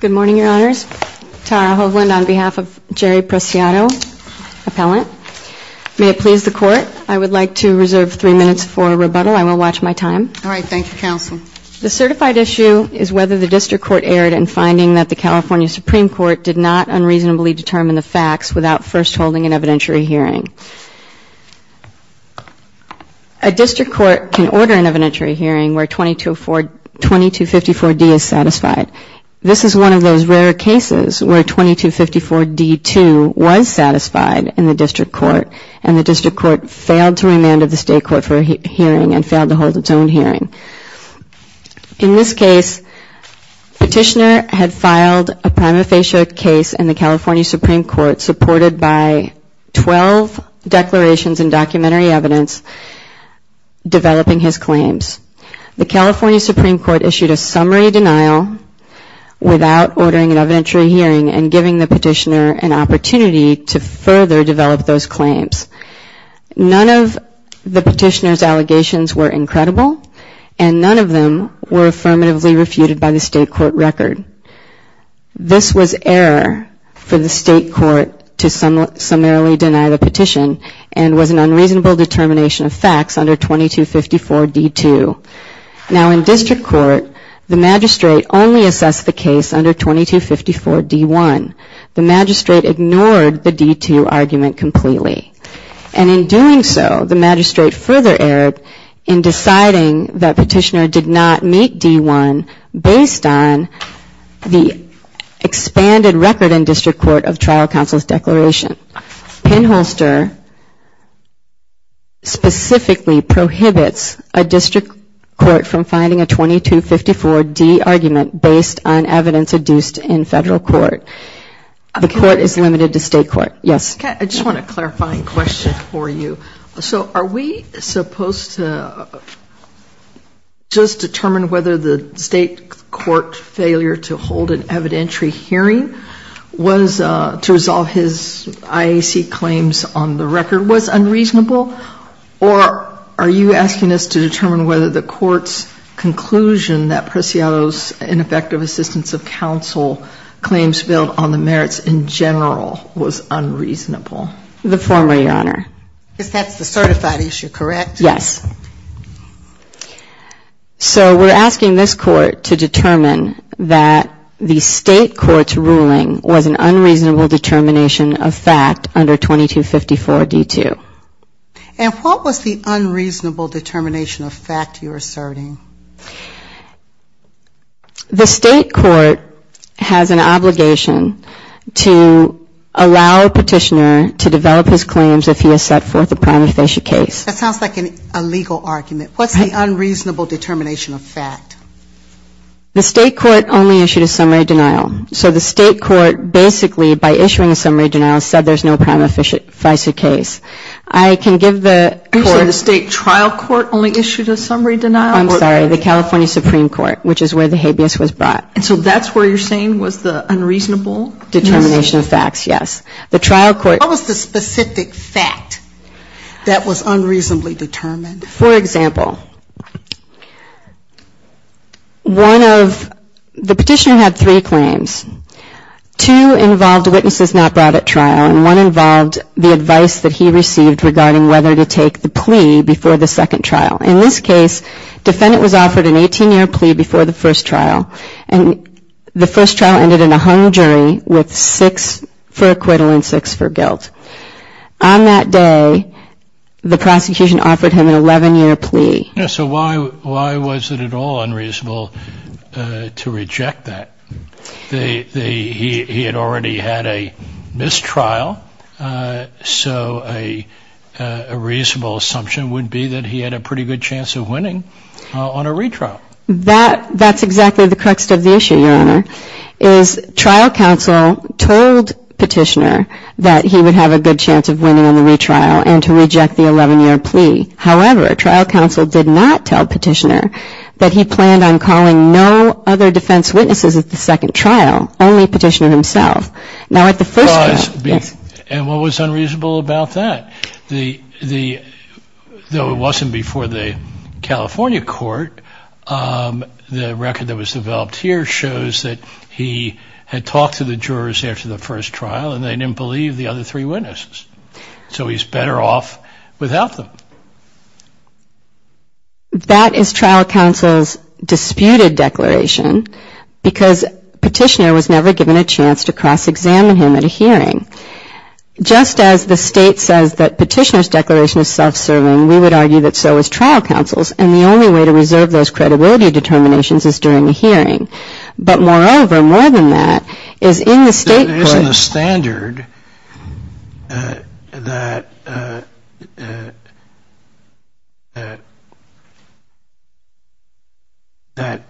Good morning, Your Honors. Tara Hoagland on behalf of Jerry Preciado, appellant. May it please the Court, I would like to reserve three minutes for rebuttal. I will watch my time. All right. Thank you, Counsel. The certified issue is whether the District Court erred in finding that the California Supreme Court did not unreasonably determine the facts without first holding an evidentiary hearing. A District Court can order an evidentiary hearing where 2254-D is satisfied. This is one of those rare cases where 2254-D-2 was satisfied in the District Court and the District Court failed to remand the State Court for a hearing and failed to hold its own hearing. In this case, Petitioner had filed a prima facie case in the California Supreme Court supported by 12 declarations and documentary evidence developing his claims. The California Supreme Court issued a summary denial without ordering an evidentiary hearing and giving the Petitioner an opportunity to further develop those claims. None of the Petitioner's allegations were incredible and none of them were affirmatively refuted by the State Court record. This was error for the State Court to summarily deny the Petition and was an unreasonable determination of facts under 2254-D-2. Now in District Court, the Magistrate only assessed the case under 2254-D-1. The Magistrate ignored the D-2 argument completely. And in doing so, the Magistrate further erred in deciding that Petitioner did not meet D-1 based on the expanded record in District Court of trial counsel's declaration. Penholster specifically prohibits a District Court from finding a 2254-D argument based on evidence adduced in Federal Court. The Court is limited to State Court. Yes? Okay, I just want a clarifying question for you. So are we supposed to just determine whether the State Court failure to hold an evidentiary hearing was to resolve his claim that IAC claims on the record was unreasonable? Or are you asking us to determine whether the Court's conclusion that Preciado's ineffective assistance of counsel claims failed on the merits in general was unreasonable? The former, Your Honor. Because that's the certified issue, correct? Yes. So we're asking this Court to determine that the State Court's ruling was an unreasonable determination of fact under 2254-D-2. And what was the unreasonable determination of fact you're asserting? The State Court has an obligation to allow Petitioner to develop his claims if he has set forth a prima facie case. That sounds like an illegal argument. What's the unreasonable determination of fact? The State Court only issued a summary denial. So the State Court basically, by issuing a summary denial, said there's no prima facie case. I can give the Court the California Supreme Court, which is where the habeas was brought. So that's where you're saying was the unreasonable? Determination of facts, yes. The trial court What was the specific fact that was unreasonably determined? For example, the Petitioner had three claims. Two involved witnesses not brought at trial and one involved the advice that he received regarding whether to take the plea before the second trial. In this case, defendant was offered an 18-year plea before the first trial and the first trial ended in a hung jury with six for acquittal and six for guilt. On that day, the prosecution offered him an 11-year plea. So why was it at all unreasonable to reject that? He had already had a mistrial, so a reasonable assumption would be that he had a pretty good chance of winning on a retrial. That's exactly the crux of the issue, Your Honor, is trial counsel told Petitioner that he would have a good chance of winning on the retrial and to reject the 11-year plea. However, trial counsel did not tell Petitioner that he planned on calling no other defense witnesses at the second trial, only Petitioner himself. Now at the first trial, and what was unreasonable about that? Though it wasn't before the California Court, the record that was developed here shows that he had talked to the jurors after the first trial, and they didn't believe the other three witnesses. So he's better off without them. That is trial counsel's disputed declaration, because Petitioner was never given a chance to cross-examine him at a hearing. Just as the State says that Petitioner's declaration is self-serving, we would argue that so is trial counsel's, and the only way to reserve those credibility determinations is during a hearing. But moreover, more than that, is in the State court... There isn't a standard that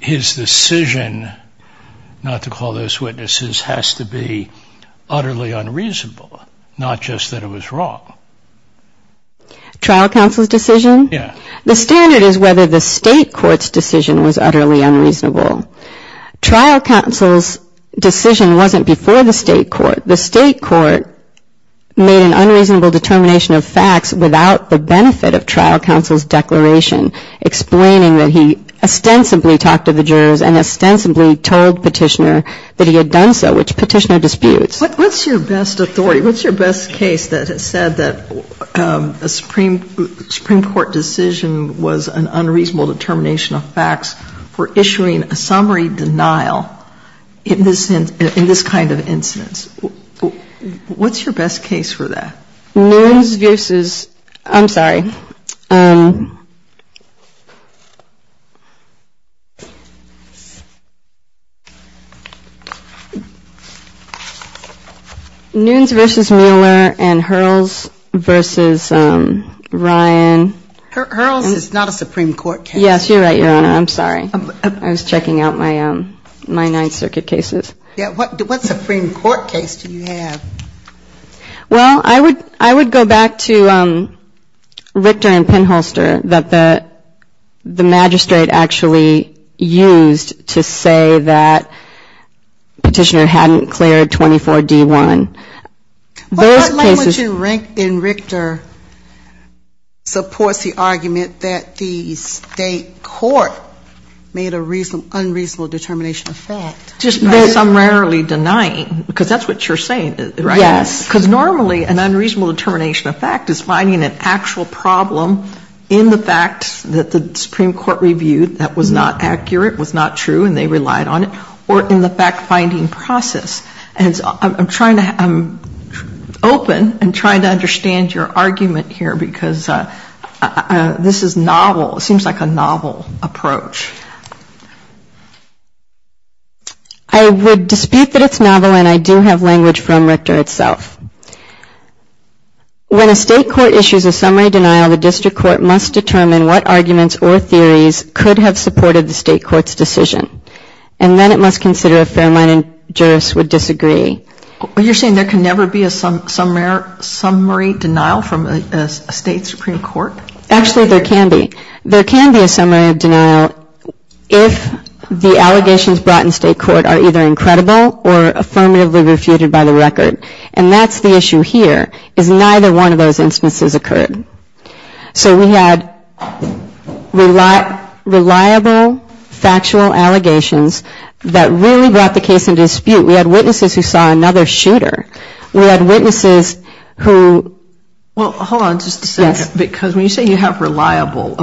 his decision not to call those witnesses has to be utterly unreasonable, not just that it was wrong. Trial counsel's decision? Yeah. The standard is whether the State court's decision was utterly unreasonable. Trial counsel's decision wasn't before the State court. The State court made an unreasonable determination of facts without the benefit of trial counsel's declaration, explaining that he ostensibly talked to the jurors and ostensibly told Petitioner that he had done so, which Petitioner disputes. What's your best authority? What's your best case that has said that a Supreme Court decision was an unreasonable determination of facts for issuing a summary denial in this kind of incidence? What's your best case for that? Nunes v. I'm sorry. Nunes v. Mueller and Hurls v. Ryan. Hurls is not a Supreme Court case. Yes, you're right, Your Honor. I'm sorry. I was checking out my Ninth Circuit cases. What Supreme Court case do you have? Well, I would go back to Richter and Penholster that the magistrate actually used to say that Petitioner hadn't cleared 24D1. What language in Richter supports the argument that the State court made an unreasonable determination of fact? I'm rarely denying, because that's what you're saying, right? Yes. Because normally an unreasonable determination of fact is finding an actual problem in the fact that the Supreme Court reviewed that was not accurate, was not true, and they relied on it, or in the fact-finding process. And I'm trying to open and trying to understand your argument here, because this is novel. It seems like a novel approach. I would dispute that it's novel, and I do have language from Richter itself. When a State court issues a summary denial, the district court must determine what arguments or theories could have supported the State court's decision, and then it must consider if fair-minded jurists would disagree. You're saying there can never be a summary denial from a State Supreme Court? Actually, there can be. There can be a summary denial if the allegations brought in State court are either incredible or affirmatively refuted by the record. And that's the issue here, is neither one of those instances occurred. So we had reliable factual allegations that really brought the case into dispute. We had witnesses who saw another shooter. We had witnesses who ---- Well, hold on just a second. Yes. Because when you say you have reliable,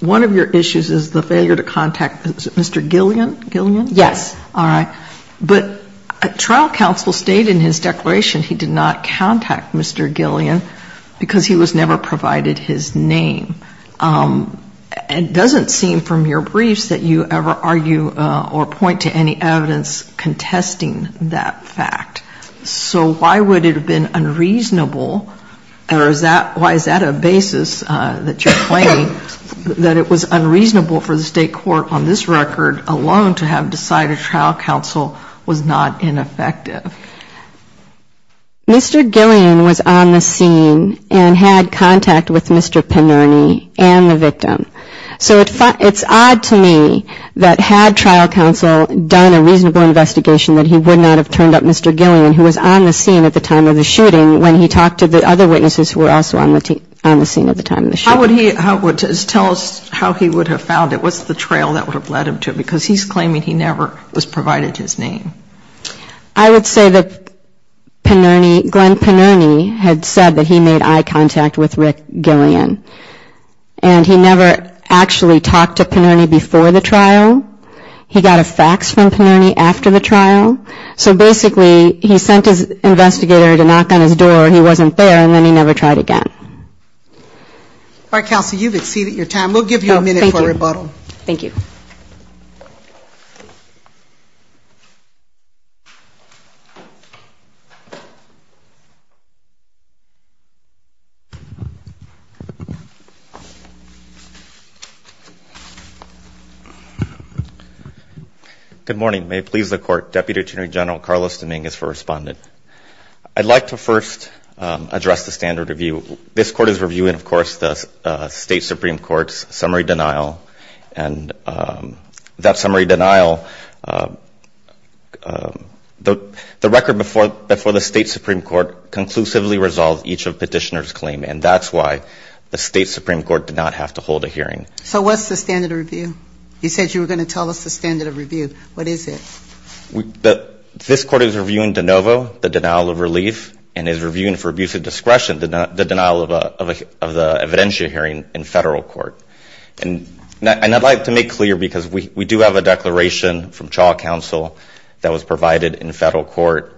one of your issues is the failure to contact Mr. Gillian, Gillian? Yes. All right. But trial counsel stated in his declaration he did not contact Mr. Gillian because he was never provided his name. It doesn't seem from your briefs that you ever argue or point to any evidence contesting that fact. So why would it have been unreasonable or why is that a basis that you're claiming, that it was unreasonable for the State court on this record alone to have decided trial counsel was not ineffective? Mr. Gillian was on the scene and had contact with Mr. Penerny and the victim. So it's odd to me that had trial counsel done a reasonable investigation that he would not have turned up Mr. Gillian who was on the scene at the time of the shooting when he talked to the other witnesses who were also on the scene at the time of the shooting. How would he tell us how he would have found it? What's the trail that would have led him to it? Because he's claiming he never was provided his name. I would say that Penerny, Glenn Penerny had said that he made eye contact with Rick Gillian. And he never actually talked to Penerny before the trial. He got a fax from Penerny after the trial. So basically he sent his investigator to knock on his door and he wasn't there and then he never tried again. All right, counsel, you've exceeded your time. We'll give you a minute for a rebuttal. Thank you. Good morning. May it please the Court. Deputy Attorney General Carlos Dominguez for Respondent. I'd like to first address the standard review. This Court is reviewing, of course, the State Supreme Court's summary denial. And that summary denial, as you know, is based on the fact that the State Supreme Court conclusively resolved each of Petitioner's claims. And that's why the State Supreme Court did not have to hold a hearing. So what's the standard review? You said you were going to tell us the standard of review. What is it? This Court is reviewing de novo, the denial of relief, and is reviewing for abuse of discretion the denial of the evidentiary hearing in Federal court. And I'd like to make clear, because we do have a declaration from trial counsel that was provided in Federal court,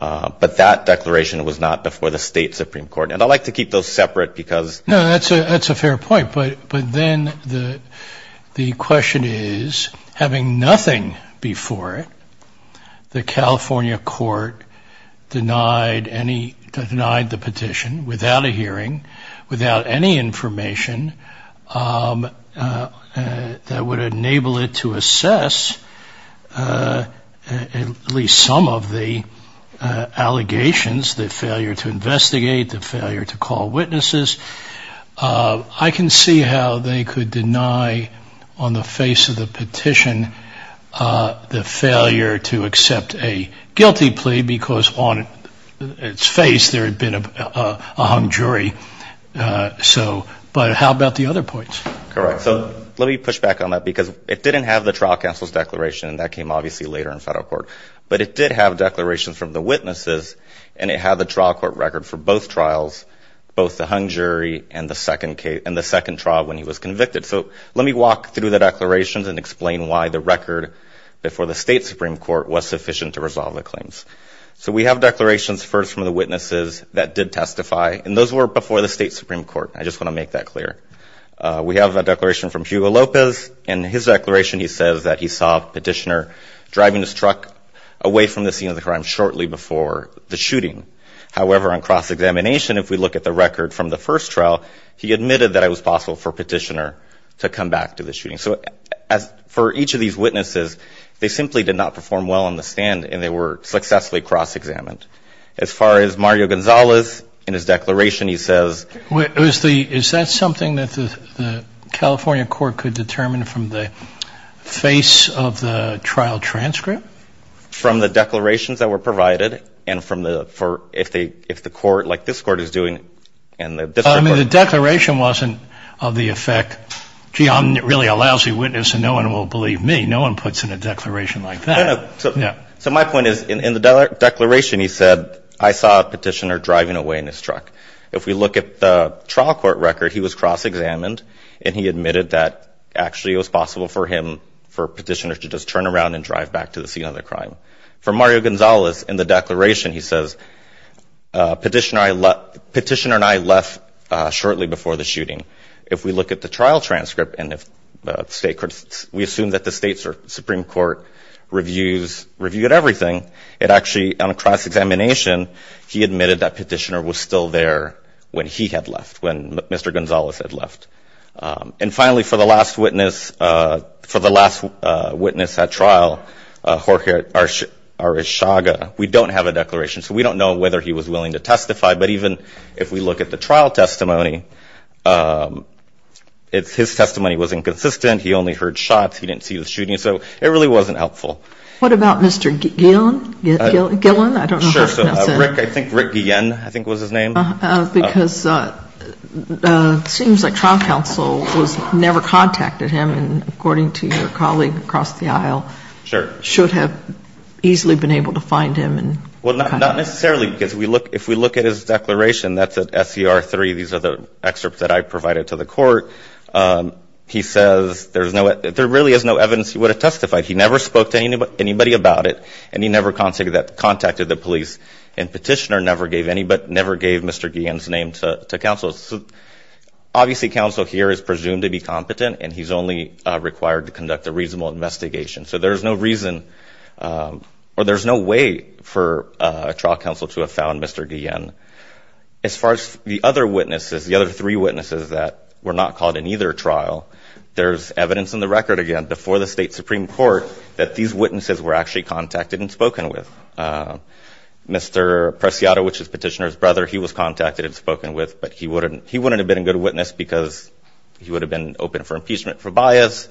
but that declaration was not before the State Supreme Court. And I'd like to keep those separate because... No, that's a fair point. But then the question is, having nothing before it, the California court denied the petition without a hearing, without any information that would enable it to assess whether or not the Supreme Court had at least some of the allegations, the failure to investigate, the failure to call witnesses. I can see how they could deny on the face of the petition the failure to accept a guilty plea because on its face there had been a hung jury. But how about the other points? Correct. So let me push back on that because it didn't have the trial counsel's declaration, and that came obviously later in Federal court. But it did have declarations from the witnesses, and it had the trial court record for both trials, both the hung jury and the second trial when he was convicted. So let me walk through the declarations and explain why the record before the State Supreme Court was sufficient to resolve the claims. So we have declarations first from the witnesses that did testify, and those were before the State Supreme Court. We have a declaration from Hugo Lopez, and in his declaration he says that he saw Petitioner driving his truck away from the scene of the crime shortly before the shooting. However, on cross-examination, if we look at the record from the first trial, he admitted that it was possible for Petitioner to come back to the shooting. So for each of these witnesses, they simply did not perform well on the stand, and they were successfully cross-examined. As far as Mario Gonzalez, in his declaration he says that he saw Petitioner driving his truck away from the scene of the crime shortly before the shooting. And he admitted that it was possible for Petitioner to come back to the shooting. So we have declarations from the witnesses that did testify, and those were before the State Supreme Court. And we have declarations from the witnesses that did testify, and those were before the State Supreme Court. So my point is, in the declaration he said, I saw Petitioner driving away in his truck. If we look at the trial court record, he was cross-examined, and he admitted that actually it was possible for him, for Petitioner to just turn around and drive back to the scene of the crime. For Mario Gonzalez, in the declaration he says, Petitioner and I left shortly before the shooting. If we look at the trial transcript, and we assume that the State Supreme Court reviewed Petitioner's testimony, reviewed everything, it actually, on a cross-examination, he admitted that Petitioner was still there when he had left, when Mr. Gonzalez had left. And finally, for the last witness at trial, Jorge Arishaga, we don't have a declaration, so we don't know whether he was willing to testify. But even if we look at the trial testimony, his testimony was inconsistent. He only heard shots. He didn't see the shooting. So it really wasn't helpful. What about Mr. Guillen? I think Rick Guillen was his name. Because it seems like trial counsel never contacted him, and according to your colleague across the aisle, should have easily been able to find him. Well, not necessarily, because if we look at his declaration, that's at SCR 3. These are the excerpts that I provided to the Court. He says there really is no evidence he would have testified. He never spoke to anybody about it, and he never contacted the police. And Petitioner never gave Mr. Guillen's name to counsel. Obviously, counsel here is presumed to be competent, and he's only required to conduct a reasonable investigation. So there's no reason or there's no way for trial counsel to have found Mr. Guillen. As far as the other witnesses, the other three witnesses that were not called in either trial, there's evidence in the record, again, before the State Supreme Court, that these witnesses were actually contacted and spoken with. Mr. Preciado, which is Petitioner's brother, he was contacted and spoken with, but he wouldn't have been a good witness because he would have been open for impeachment for bias,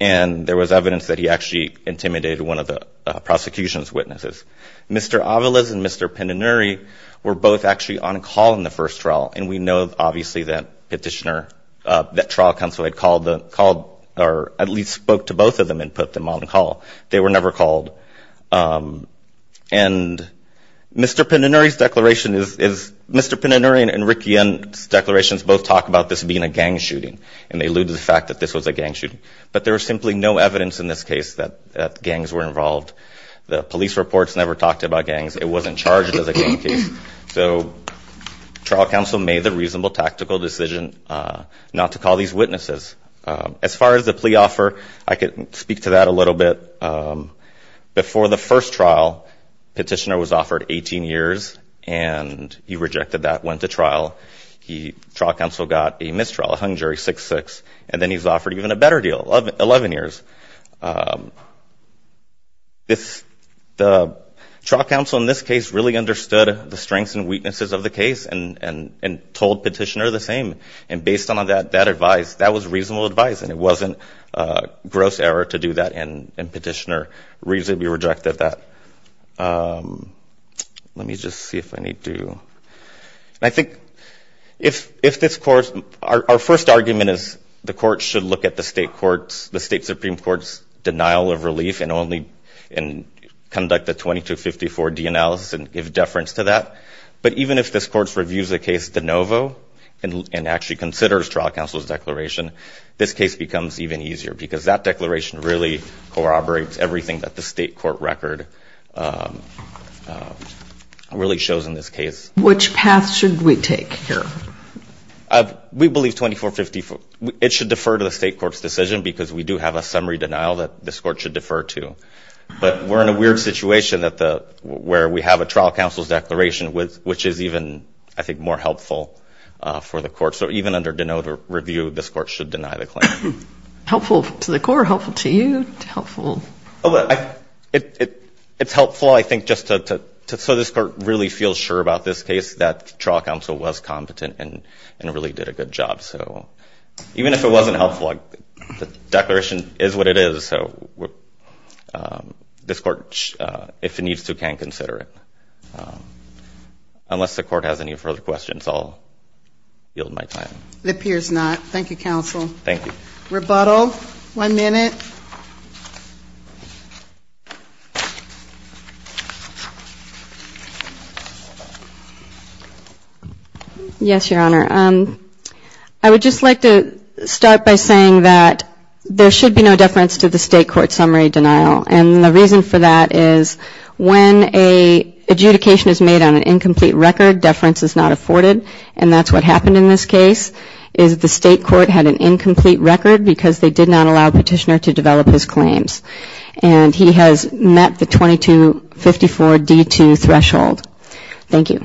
and there was evidence that he actually intimidated one of the prosecution's witnesses. Mr. Aviles and Mr. Penanuri were both actually on call in the first trial, and we know, obviously, that Petitioner, that trial counsel had called, or at least spoke to both of them and put them on call. They were never called. And Mr. Penanuri's declaration is, Mr. Penanuri and Rick Guillen's declarations both talk about this being a gang shooting, and they allude to the fact that this was a gang shooting, but there was simply no evidence in this case that gangs were involved. The police reports never talked about gangs. It wasn't charged as a gang case, so trial counsel made the reasonable tactical decision not to call these witnesses. As far as the plea offer, I could speak to that a little bit. Before the first trial, Petitioner was offered 18 years, and he rejected that, went to trial. Trial counsel got a mistrial, a hung jury, 6-6, and then he was offered even a better deal, 11 years. The trial counsel in this case really understood the strengths and weaknesses of the case and told Petitioner the same, and based on that advice, that was reasonable advice, and it wasn't gross error to do that, and Petitioner reasonably rejected that. Our first argument is the court should look at the state Supreme Court's denial of relief and conduct a 2254 D analysis and give deference to that. But even if this court reviews the case de novo and actually considers trial counsel's declaration, this case becomes even easier because that declaration really corroborates everything that the state court record really shows in this case. Which path should we take here? We believe 2454. It should defer to the state court's decision because we do have a summary denial that this court should defer to. But we're in a weird situation where we have a trial counsel's declaration, which is even, I think, more helpful for the court. So even under de novo review, this court should deny the claim. Helpful to the court or helpful to you? Helpful. It's helpful, I think, just so this court really feels sure about this case, that trial counsel was competent and really did a good job. So even if it wasn't helpful, the declaration is what it is. So this court, if it needs to, can consider it. Unless the court has any further questions, I'll yield my time. It appears not. Thank you, counsel. Thank you. Rebuttal. One minute. Yes, Your Honor. I would just like to start by saying that there should be no deference to the state court summary denial. And the reason for that is when an adjudication is made on an incomplete record, deference is not afforded, and that's what happened in this case, is the state court had an incomplete record because they did not allow Petitioner to develop his claims. And he has met the 2254D2 threshold. Thank you.